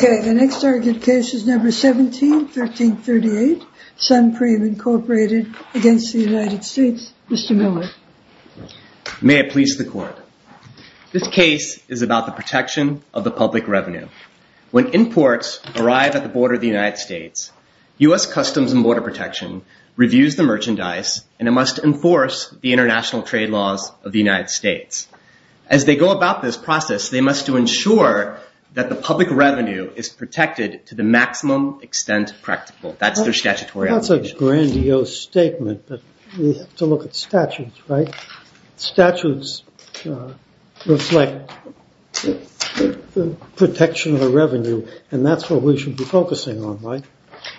May I please the court? This case is about the protection of the public revenue. When imports arrive at the border of the United States, U.S. Customs and Border Protection reviews the merchandise, and it must enforce the international trade laws of the United States. As they go about this process, they must ensure that the public revenue is protected to the maximum extent practical. That's their statutory obligation. That's a grandiose statement, but we have to look at statutes, right? Statutes reflect the protection of the revenue, and that's what we should be focusing on, right?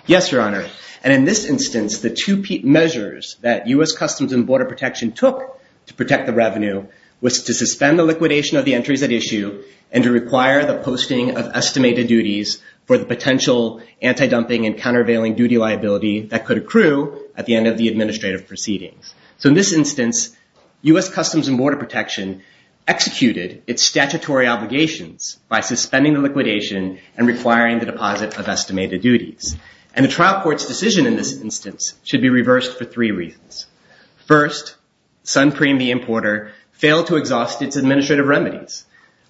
Yes, Your Honor. And in this instance, the two measures that U.S. Customs and Border Protection took to protect the revenue was to suspend the liquidation of the entries at issue, and to require the posting of estimated duties for the potential anti-dumping and countervailing duty liability that could accrue at the end of the administrative proceedings. So in this instance, U.S. Customs and Border Protection executed its statutory obligations by suspending the liquidation and requiring the deposit of estimated duties. And the trial court's decision in this instance should be reversed for three reasons. First, Sunpreme, the importer, failed to exhaust its administrative remedies.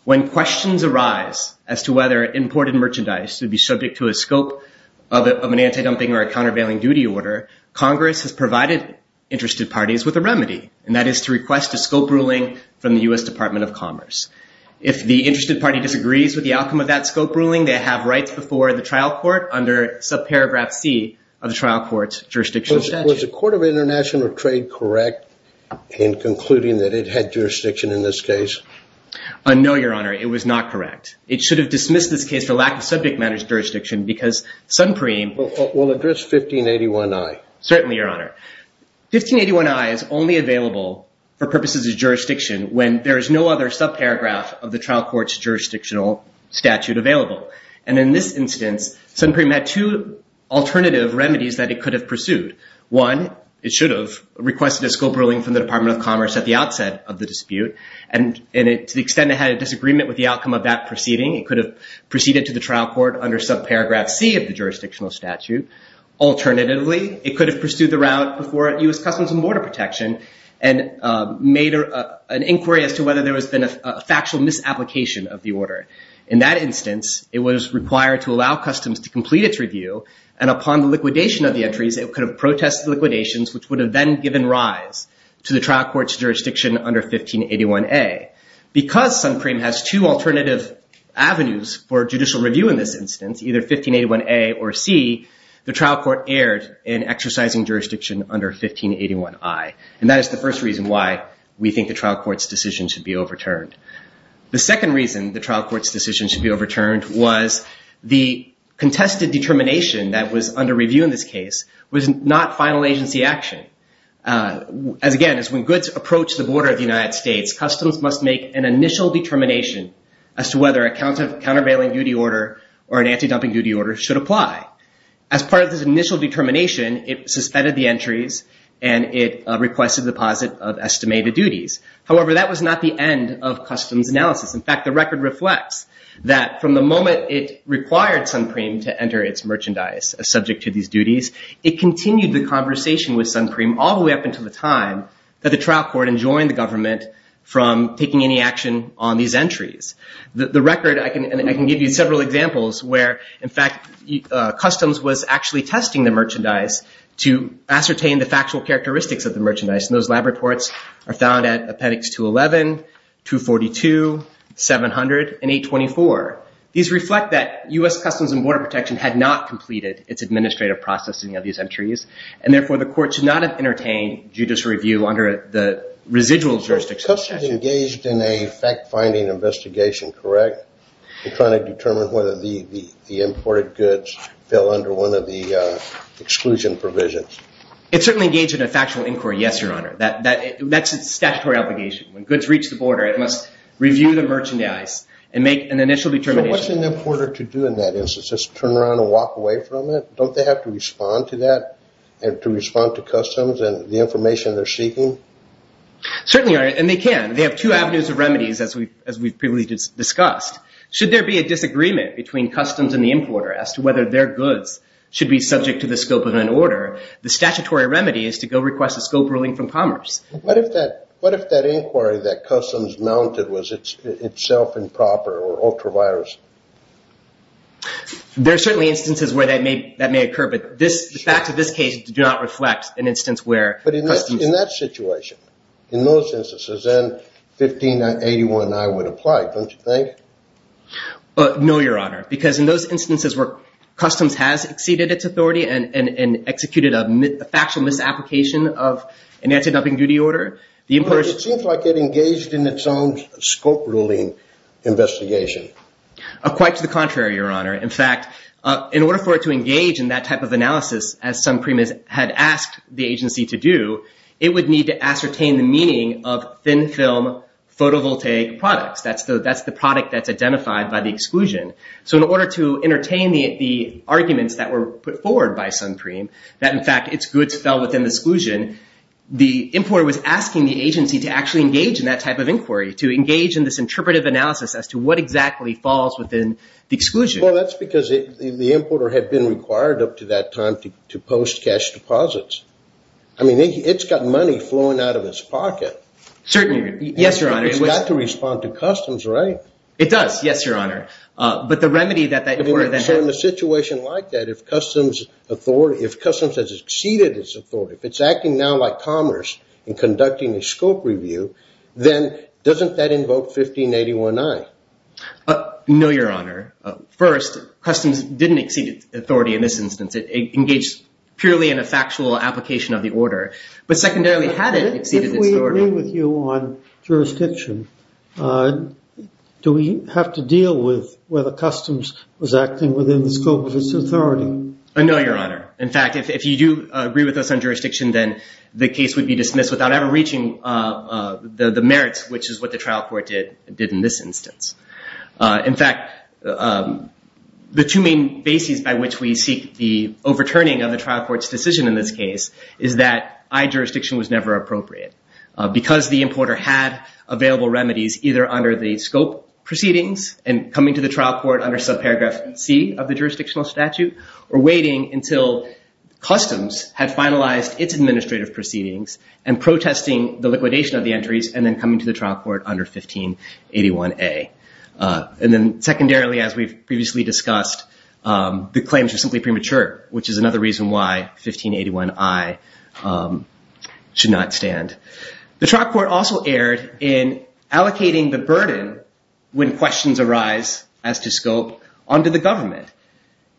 When questions arise as to whether imported merchandise would be subject to a scope of an anti-dumping or a countervailing duty order, Congress has provided interested parties with a remedy, and that is to request a scope ruling from the U.S. Department of Commerce. If the interested party disagrees with the outcome of that scope ruling, they have rights before the trial court under subparagraph C of the trial court's jurisdiction statute. Was the Court of International Trade correct in concluding that it had jurisdiction in this case? No, Your Honor, it was not correct. It should have dismissed this is the lack of subject matters jurisdiction because Sunpreme will address 1581I. Certainly, Your Honor. 1581I is only available for purposes of jurisdiction when there is no other subparagraph of the trial court's jurisdictional statute available. And in this instance, Sunpreme had two alternative remedies that it could have pursued. One, it should have requested a scope ruling from the Department of Commerce at the outset of the dispute. And to the extent it had a disagreement with the outcome of that proceeding, it could have proceeded to the trial court under subparagraph C of the jurisdictional statute. Alternatively, it could have pursued the route before U.S. Customs and Border Protection and made an inquiry as to whether there has been a factual misapplication of the order. In that instance, it was required to allow Customs to complete its review, and upon the liquidation of the entries, it could have protested liquidations, which would have then Because Sunpreme has two alternative avenues for judicial review in this instance, either 1581A or C, the trial court erred in exercising jurisdiction under 1581I. And that is the first reason why we think the trial court's decision should be overturned. The second reason the trial court's decision should be overturned was the contested determination that was under review in this case was not final agency action. As again, as when goods approach the border of the United States, Customs must make an initial determination as to whether a countervailing duty order or an anti-dumping duty order should apply. As part of this initial determination, it suspended the entries and it requested deposit of estimated duties. However, that was not the end of Customs analysis. In fact, the record reflects that from the moment it required Sunpreme to enter its duties, it continued the conversation with Sunpreme all the way up until the time that the trial court enjoined the government from taking any action on these entries. The record, I can give you several examples where, in fact, Customs was actually testing the merchandise to ascertain the factual characteristics of the merchandise. And those lab reports are found at Appendix 211, 242, 700, and 824. These reflect that U.S. Customs and Border Protection had not completed its administrative processing of these entries. And therefore, the court should not have entertained judicial review under the residual jurisdiction. Was Customs engaged in a fact-finding investigation, correct, in trying to determine whether the imported goods fell under one of the exclusion provisions? It certainly engaged in a factual inquiry, yes, Your Honor. That's its statutory obligation. When goods reach the border, it must review the merchandise and make an initial determination. So what's an importer to do in that instance? Just turn around and walk away from it? Don't they have to respond to that and to respond to Customs and the information they're seeking? Certainly, Your Honor, and they can. They have two avenues of remedies, as we've previously discussed. Should there be a disagreement between Customs and the importer as to whether their goods should be subject to the scope of an order, the statutory remedy is to go request a scope ruling from Commerce. What if that inquiry that Customs mounted was itself improper or ultra-virus? There are certainly instances where that may occur, but the fact of this case did not reflect an instance where Customs... But in that situation, in those instances, then 1581I would apply, don't you think? No, Your Honor, because in those instances where Customs has exceeded its authority and executed a factional misapplication of an anti-dumping duty order, the importer... It seems like it engaged in its own scope ruling investigation. Quite to the contrary, Your Honor. In fact, in order for it to engage in that type of analysis, as Suncream had asked the agency to do, it would need to ascertain the meaning of thin-film photovoltaic products. That's the product that's identified by the exclusion. So in order to entertain the arguments that were put forward by Suncream, that in fact its goods fell within the exclusion, the importer was asking the agency to actually engage in that type of inquiry, to engage in this interpretive analysis as to what exactly falls within the exclusion. Well, that's because the importer had been required up to that time to post cash deposits. I mean, it's got money flowing out of its pocket. Certainly. Yes, Your Honor. It's got to respond to Customs, right? It does. Yes, Your Honor. But the remedy that that order then had... So in a situation like that, if Customs has exceeded its authority, if it's acting now like Commerce and Revenue, then doesn't that invoke 1581I? No, Your Honor. First, Customs didn't exceed its authority in this instance. It engaged purely in a factual application of the order. But secondarily, had it exceeded its authority... If we agree with you on jurisdiction, do we have to deal with whether Customs was acting within the scope of its authority? No, Your Honor. In fact, if you do agree with us on jurisdiction, then the case would be dismissed without reaching the merits, which is what the trial court did in this instance. In fact, the two main bases by which we seek the overturning of the trial court's decision in this case is that I jurisdiction was never appropriate because the importer had available remedies either under the scope proceedings and coming to the trial court under subparagraph C of the jurisdictional statute or waiting until Customs had finalized its administrative proceedings and protesting the liquidation of the entries and then coming to the trial court under 1581A. And then secondarily, as we've previously discussed, the claims are simply premature, which is another reason why 1581I should not stand. The trial court also erred in allocating the burden when questions arise as to scope onto the government.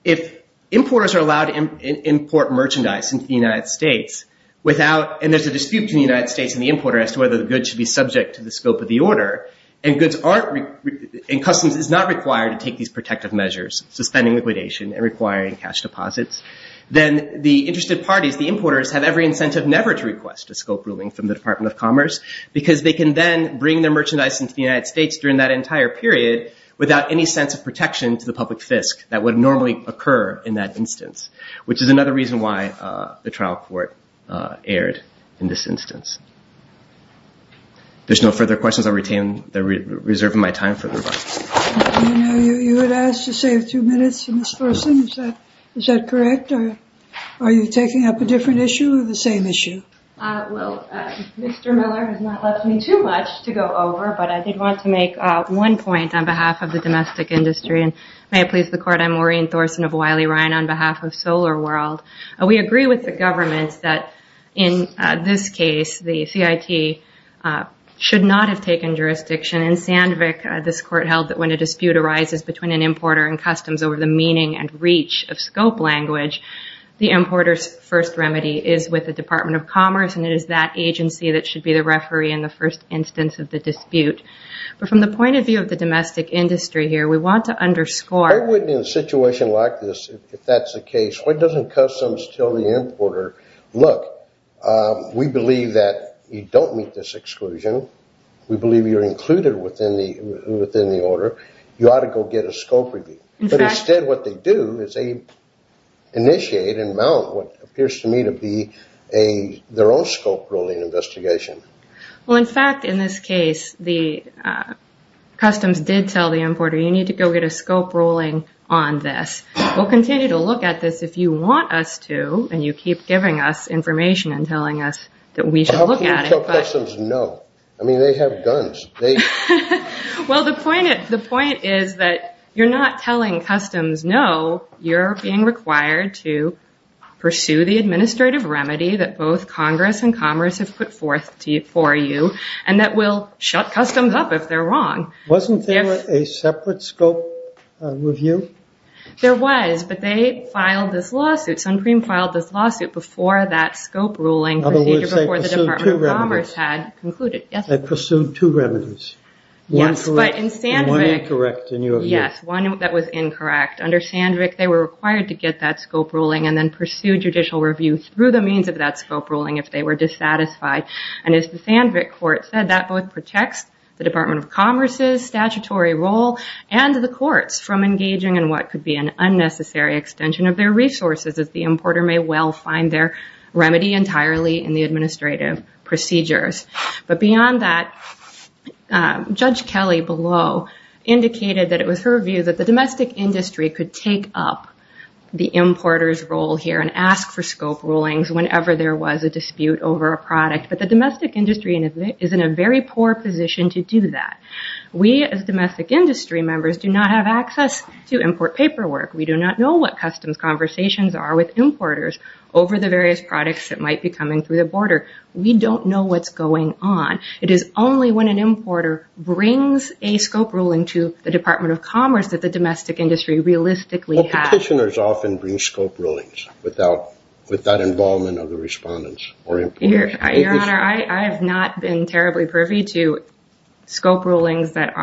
If importers are allowed to import merchandise into the United States without... And there's a dispute between the United States and the importer as to whether the goods should be subject to the scope of the order, and Customs is not required to take these protective measures, suspending liquidation and requiring cash deposits, then the interested parties, the importers, have every incentive never to request a scope ruling from the Department of Commerce because they can then bring their merchandise into the United States during that period without any sense of protection to the public fisc that would normally occur in that instance, which is another reason why the trial court erred in this instance. There's no further questions. I'll retain the reserve of my time for the rebuttal. You had asked to save two minutes for Ms. Gorsing. Is that correct? Or are you taking up a different issue or the same issue? Well, Mr. Miller has not left me too much to go over, but I did want to make one point on behalf of the domestic industry. And may it please the court, I'm Maureen Thorson of Wiley Ryan on behalf of Solar World. We agree with the government that in this case, the CIT should not have taken jurisdiction. In Sandvik, this court held that when a dispute arises between an importer and Customs over the meaning and reach of scope language, the importer's first remedy is with the agency that should be the referee in the first instance of the dispute. But from the point of view of the domestic industry here, we want to underscore- I wouldn't in a situation like this, if that's the case, why doesn't Customs tell the importer, look, we believe that you don't meet this exclusion. We believe you're included within the order. You ought to go get a scope review. But instead what they do is they initiate and what appears to me to be their own scope ruling investigation. Well, in fact, in this case, Customs did tell the importer, you need to go get a scope ruling on this. We'll continue to look at this if you want us to, and you keep giving us information and telling us that we should look at it. How can you tell Customs no? I mean, they have guns. Well, the point is that you're not telling Customs no, you're being required to pursue the administrative remedy that both Congress and Commerce have put forth for you, and that will shut Customs up if they're wrong. Wasn't there a separate scope review? There was, but they filed this lawsuit. Suncream filed this lawsuit before that scope ruling procedure before the Department of Commerce had concluded. They pursued two remedies. One incorrect in your view. Yes, one that was incorrect. Under Sandvik, they were required to get that scope ruling and then pursue judicial review through the means of that scope ruling if they were dissatisfied. And as the Sandvik court said, that both protects the Department of Commerce's statutory role and the court's from engaging in what could be an unnecessary extension of their resources as the importer may well find their remedy entirely in the administrative procedures. But beyond that, Judge Kelly below indicated that it was her view that the domestic industry could take up the importer's role here and ask for scope rulings whenever there was a dispute over a product. But the domestic industry is in a very poor position to do that. We as domestic industry members do not have access to import paperwork. We do not know what Customs conversations are with importers over the various products that might be coming through the border. We don't know what's going on. It is only when an importer brings a scope ruling to the Department of Commerce that domestic industry realistically has... Petitioners often bring scope rulings without involvement of the respondents or importers. Your Honor, I have not been terribly privy to scope rulings that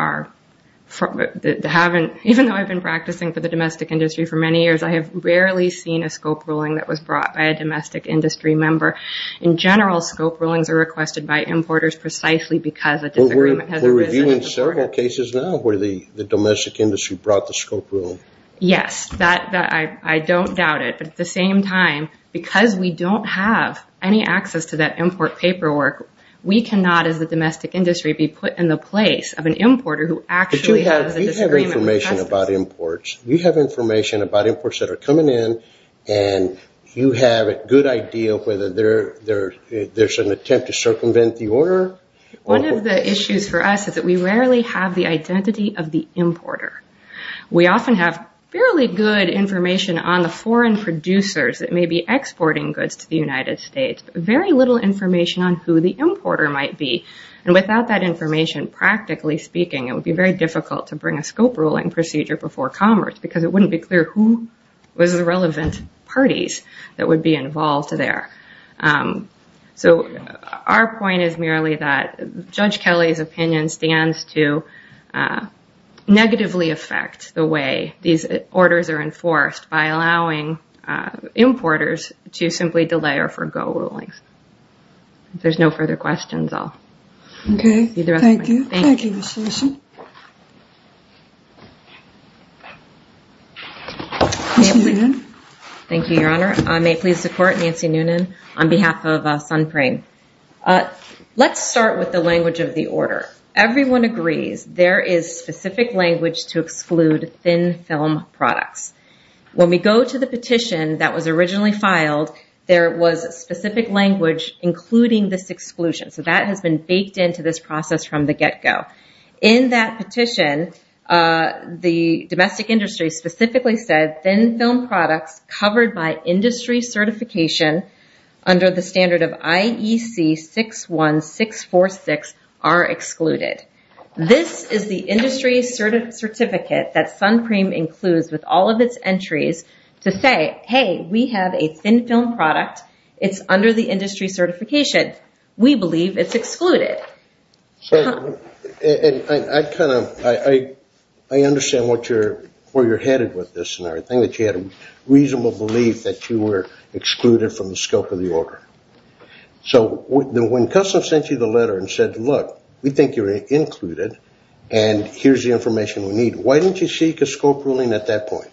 haven't, even though I've been practicing for the domestic industry for many years, I have rarely seen a scope ruling that was brought by a domestic industry member. In general, scope rulings are requested by importers precisely because a disagreement has arisen. We're reviewing several cases now where the domestic industry brought the scope ruling. Yes, I don't doubt it. But at the same time, because we don't have any access to that import paperwork, we cannot, as the domestic industry, be put in the place of an importer who actually has a disagreement with Customs. But you have information about imports. You have information about imports that are coming in and you have a good idea of whether there's an attempt to circumvent the order. One of the issues for us is that we rarely have the identity of the importer. We often have fairly good information on the foreign producers that may be exporting goods to the United States, but very little information on who the importer might be. And without that information, practically speaking, it would be very difficult to bring a scope ruling procedure before Commerce because it wouldn't be clear who was the relevant parties that would be involved there. So our point is merely that Judge Kelly's opinion stands to negatively affect the way these orders are enforced by allowing importers to simply delay or forego rulings. If there's no further questions, I'll see the rest of my team. Okay. Thank you. Thank you, Ms. Harrison. Nancy Noonan. Thank you, Your Honor. I may please support Nancy Noonan on behalf of Sunprime. Let's start with the language of the order. Everyone agrees there is specific language to exclude thin film products. When we go to the petition that was originally filed, there was a specific language including this exclusion. So has been baked into this process from the get-go. In that petition, the domestic industry specifically said thin film products covered by industry certification under the standard of IEC 61646 are excluded. This is the industry certificate that Sunprime includes with all of its entries to say, hey, we have a thin film product. It's under the industry certification. We believe it's excluded. I understand where you're headed with this. I think you had a reasonable belief that you were excluded from the scope of the order. So when Customs sent you the letter and said, look, we think you're included and here's the information we need, why didn't you seek a scope ruling at that point?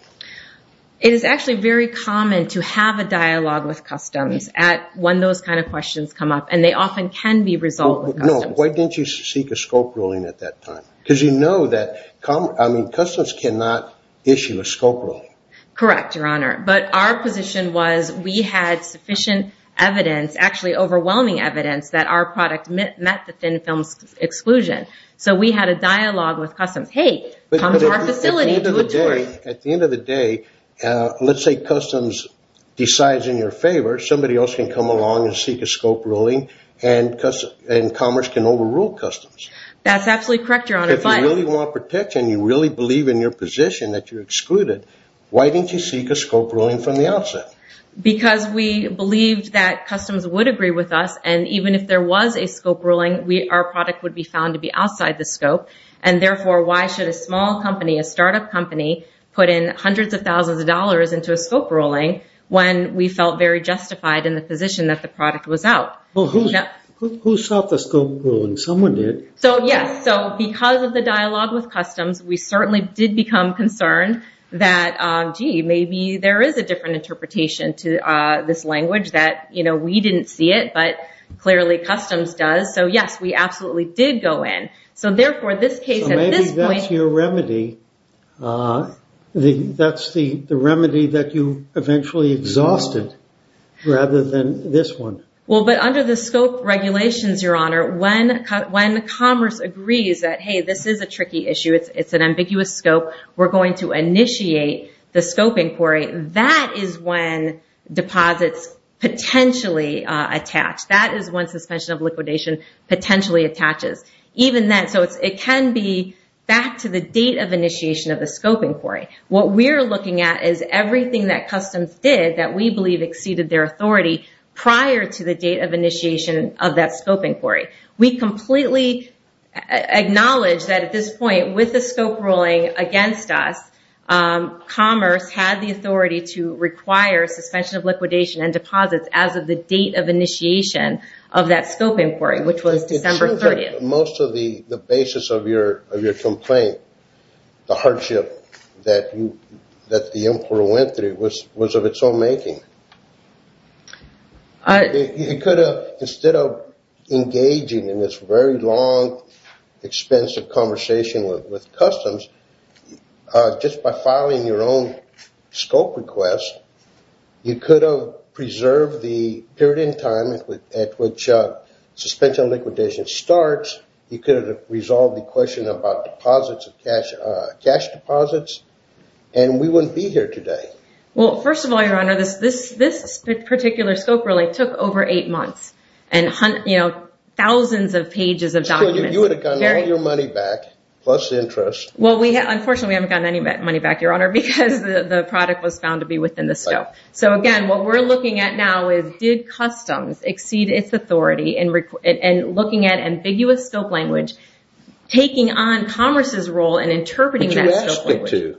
It is actually very common to have a dialogue with Customs at when those kind of questions come up and they often can be resolved. Why didn't you seek a scope ruling at that time? Because you know that Customs cannot issue a scope ruling. Correct, Your Honor. But our position was we had sufficient evidence, actually overwhelming evidence that our product met the thin film exclusion. So we had a dialogue with Customs. Hey, come to our facility, do a tour. At the end of the day, let's say Customs decides in your favor, somebody else can come along and seek a scope ruling and Commerce can overrule Customs. That's absolutely correct, Your Honor. If you really want protection, you really believe in your position that you're excluded, why didn't you seek a scope ruling from the outset? Because we believed that Customs would agree with us and even if there was a scope ruling, our product would be found to be outside the scope. And therefore, why should a small company, a startup company, put in hundreds of thousands of dollars into a scope ruling when we felt very justified in the position that the product was out? Who sought the scope ruling? Someone did. So yes, because of the dialogue with Customs, we certainly did become concerned that, gee, maybe there is a different interpretation to this language that we didn't see it, but clearly Customs does. So yes, we absolutely did go in. So therefore, this case at this point- So maybe that's your remedy. That's the remedy that you eventually exhausted rather than this one. Well, but under the scope regulations, Your Honor, when Commerce agrees that, hey, this is a tricky issue, it's an ambiguous scope, we're going to initiate the scope inquiry. That is when deposits potentially attach. That is when suspension of liquidation potentially attaches. Even then, so it can be back to the date of initiation of the scope inquiry. What we're looking at is everything that Customs did that we believe exceeded their authority prior to the date of initiation of that scope inquiry. We completely acknowledge that at this suspension of liquidation and deposits as of the date of initiation of that scope inquiry, which was December 30th. It seems like most of the basis of your complaint, the hardship that the inquiry went through was of its own making. You could have, instead of engaging in this very long, expensive conversation with Customs, just by filing your own scope request, you could have preserved the period in time at which suspension of liquidation starts. You could have resolved the question about deposits of cash deposits, and we wouldn't be here today. Well, first of all, Your Honor, this particular scope really took over eight months and thousands of pages of documents. You would have gotten all your money back, plus interest. Well, unfortunately, we haven't gotten any money back, Your Honor, because the product was found to be within the scope. Again, what we're looking at now is did Customs exceed its authority in looking at ambiguous scope language, taking on Commerce's role in interpreting that scope language?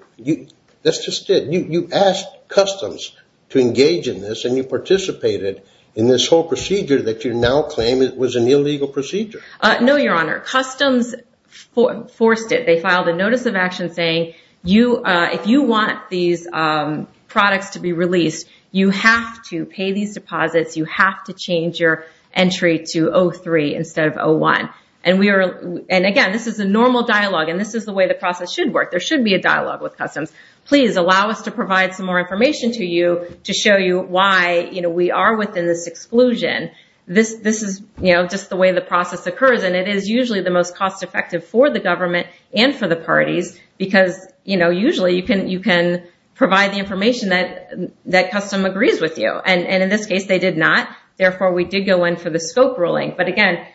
That's just it. You asked Customs to engage in this, and you participated in this whole procedure that you now claim was an illegal procedure. No, Your Honor. Customs forced it. They filed a notice of action saying, if you want these products to be released, you have to pay these deposits. You have to change your entry to 03 instead of 01. Again, this is a normal dialogue, and this is the way the process should work. There should be a dialogue with Customs. Please allow us to provide some more information to you to show you why we are within this exclusion. This is just the way the process occurs, and it is usually the most cost-effective for the government and for the parties because usually you can provide the information that Customs agrees with you. In this case, they did not. Therefore, we did go in for the scope ruling. But again,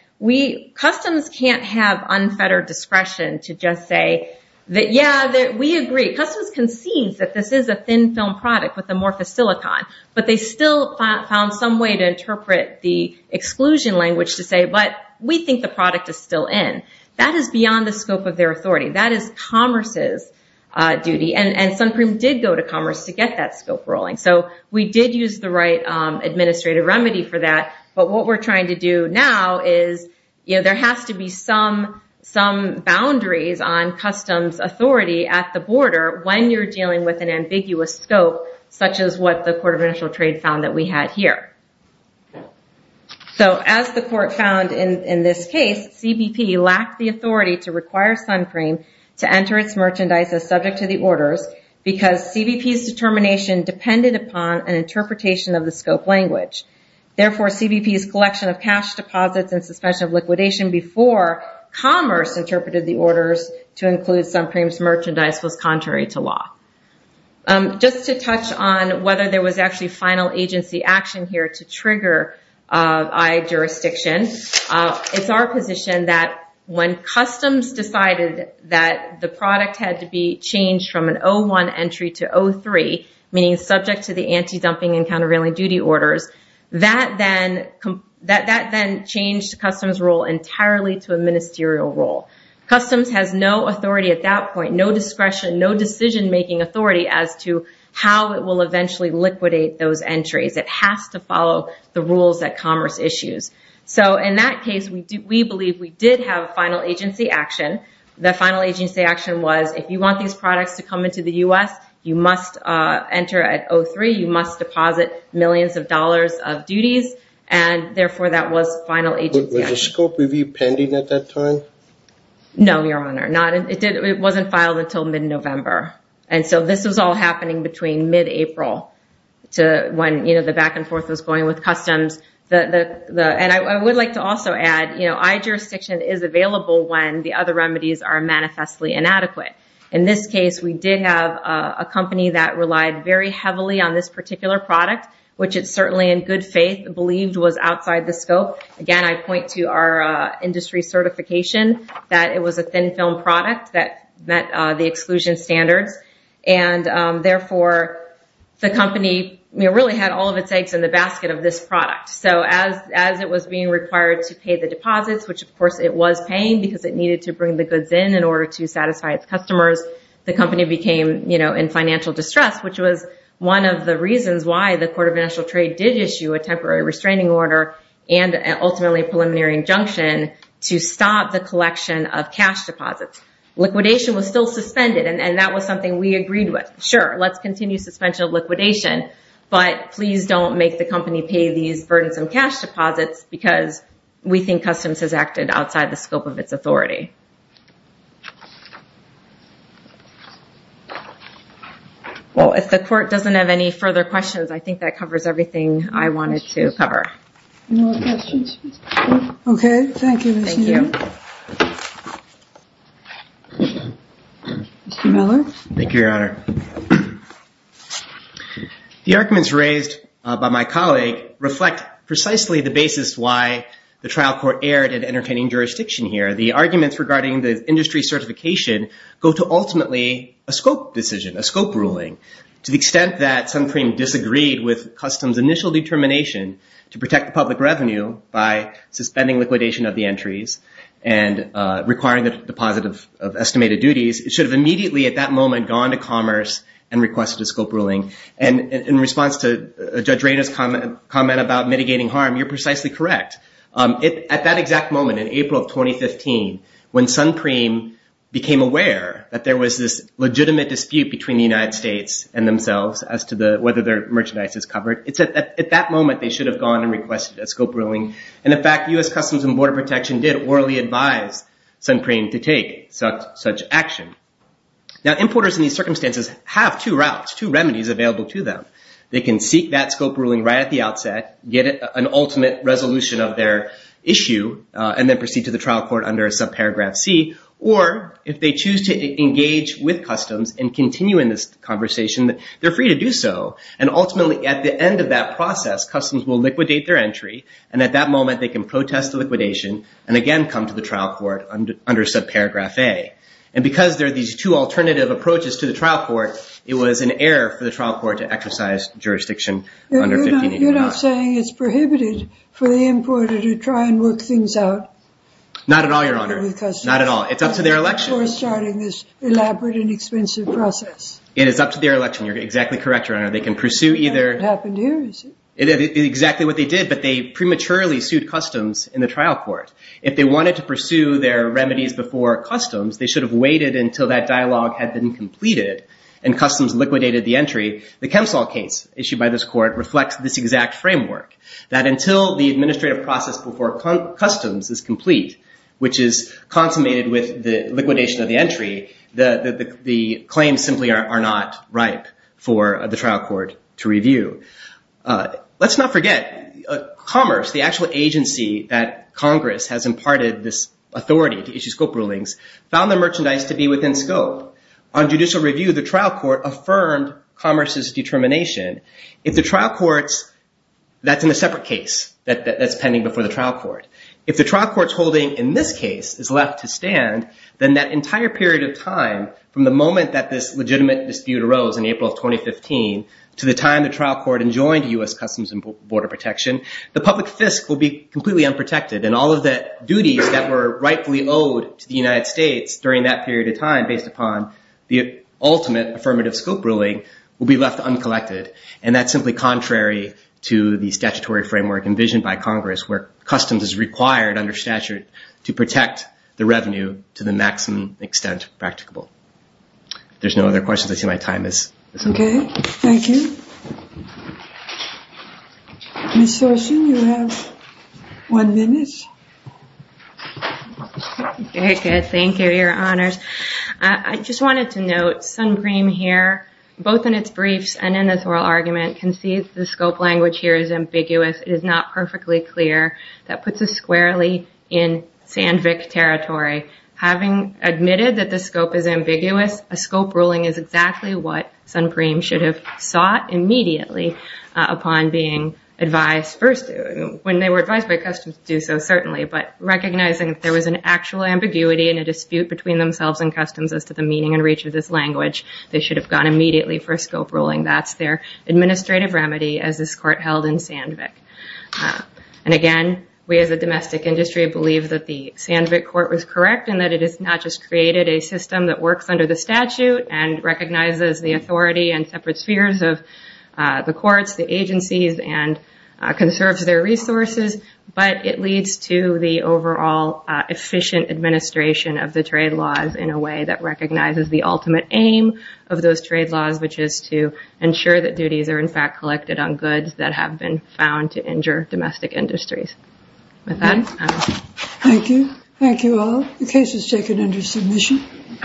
Customs can't have unfettered discretion to just say that, yeah, we agree. Customs concedes that this is a thin film product with amorphous is still in. That is beyond the scope of their authority. That is Commerce's duty, and Suncream did go to Commerce to get that scope ruling. We did use the right administrative remedy for that, but what we're trying to do now is there has to be some boundaries on Customs authority at the border when you're dealing with an ambiguous scope, such as what the Court of CBP says. In this case, CBP lacked the authority to require Suncream to enter its merchandise as subject to the orders because CBP's determination depended upon an interpretation of the scope language. Therefore, CBP's collection of cash deposits and suspension of liquidation before Commerce interpreted the orders to include Suncream's merchandise was contrary to law. Just to touch on whether there was actually final agency action here to trigger I-Jurisdiction, it's our position that when Customs decided that the product had to be changed from an O-1 entry to O-3, meaning subject to the anti-dumping and countervailing duty orders, that then changed Customs' role entirely to a ministerial role. Customs has no authority at that point, no discretion, no decision-making authority as to how it will eventually liquidate those entries. It has to follow the rules that Commerce issues. In that case, we believe we did have final agency action. The final agency action was if you want these products to come into the U.S., you must enter at O-3, you must deposit millions of dollars of duties, and therefore, that was final agency action. Was the scope review pending at that time? No, Your Honor. It wasn't filed until mid-November. This was all happening between mid-April to when the back and forth was going with Customs. I would like to also add I-Jurisdiction is available when the other remedies are manifestly inadequate. In this case, we did have a company that relied very heavily on this particular product, which it certainly in good faith believed was outside the scope. Again, I point to our industry certification that it was a thin film product that met the exclusion standards. Therefore, the company really had all of its eggs in the basket of this product. As it was being required to pay the deposits, which of course it was paying because it needed to bring the goods in in order to satisfy its customers, the company became in financial distress, which was one of the reasons why the Court of Financial Trade did issue a temporary restraining order and ultimately a preliminary injunction to stop the collection of cash deposits. Liquidation was still suspended and that was something we agreed with. Sure, let's continue suspension of liquidation, but please don't make the company pay these burdensome cash deposits because we think Customs has acted outside the scope of its authority. Well, if the Court doesn't have any further questions, I think that covers everything I wanted to cover. No questions? Okay, thank you, Mr. Miller. The arguments raised by my colleague reflect precisely the basis why the trial court erred in entertaining jurisdiction here. The arguments regarding the industry certification go to ultimately a scope decision, a scope ruling. To the extent that Suncream disagreed with initial determination to protect the public revenue by suspending liquidation of the entries and requiring the deposit of estimated duties, it should have immediately at that moment gone to commerce and requested a scope ruling. In response to Judge Rainer's comment about mitigating harm, you're precisely correct. At that exact moment in April of 2015, when Suncream became aware that there was this legitimate dispute between the United States and themselves as to whether their merchandise is covered, at that moment, they should have gone and requested a scope ruling. In fact, U.S. Customs and Border Protection did orally advise Suncream to take such action. Now, importers in these circumstances have two routes, two remedies available to them. They can seek that scope ruling right at the outset, get an ultimate resolution of their issue, and then proceed to the trial court under a subparagraph C, or if they choose to engage with Customs and continue in this conversation, they're free to do so. And ultimately, at the end of that process, Customs will liquidate their entry, and at that moment, they can protest the liquidation and again come to the trial court under subparagraph A. And because there are these two alternative approaches to the trial court, it was an error for the trial court to exercise jurisdiction under 1589. You're not saying it's prohibited for the importer to try and work things out? Not at all, Your Honor. Not at all. It's up to their election. For starting this elaborate and expensive process. It is up to their election. You're exactly correct, Your Honor. They can pursue either. It happened here, is it? Exactly what they did, but they prematurely sued Customs in the trial court. If they wanted to pursue their remedies before Customs, they should have waited until that dialogue had been completed and Customs liquidated the entry. The Kempsall case issued by this court reflects this exact framework, that until the administrative process before Customs is complete, which is consummated with the liquidation of the entry, the claims simply are not ripe for the trial court to review. Let's not forget, Commerce, the actual agency that Congress has imparted this authority to issue scope rulings, found the merchandise to be within scope. On judicial review, the trial court affirmed Commerce's determination. That's in a separate case that's pending before the trial court. If the trial court's holding in this case is left to stand, then that entire period of time, from the moment that this legitimate dispute arose in April of 2015, to the time the trial court enjoined U.S. Customs and Border Protection, the public fisc will be completely unprotected, and all of the duties that were rightfully owed to the United States during that period of time, the ultimate affirmative scope ruling will be left uncollected. And that's simply contrary to the statutory framework envisioned by Congress, where Customs is required under statute to protect the revenue to the maximum extent practicable. There's no other questions. I see my time is up. Okay. Thank you. Ms. Soshen, you have one minute. Okay. Good. Thank you, Your Honors. I just wanted to note Suncream here, both in its briefs and in this oral argument, concedes the scope language here is ambiguous. It is not perfectly clear. That puts us squarely in Sandvik territory. Having admitted that the scope is ambiguous, a scope ruling is exactly what Suncream should have sought immediately upon being advised. When they were advised by Customs to do so, certainly, but recognizing that there was an actual ambiguity and a dispute between themselves and Customs as to the meaning and reach of this language, they should have gone immediately for a scope ruling. That's their administrative remedy as this Court held in Sandvik. And again, we as a domestic industry believe that the Sandvik Court was correct in that it has not just created a system that works under the statute and recognizes the authority and separate spheres of the courts, the agencies, and conserves their resources, but it leads to the overall efficient administration of the trade laws in a way that recognizes the ultimate aim of those trade laws, which is to ensure that duties are, in fact, collected on goods that have been found to injure domestic industries. Thank you. Thank you all. The case is taken under submission.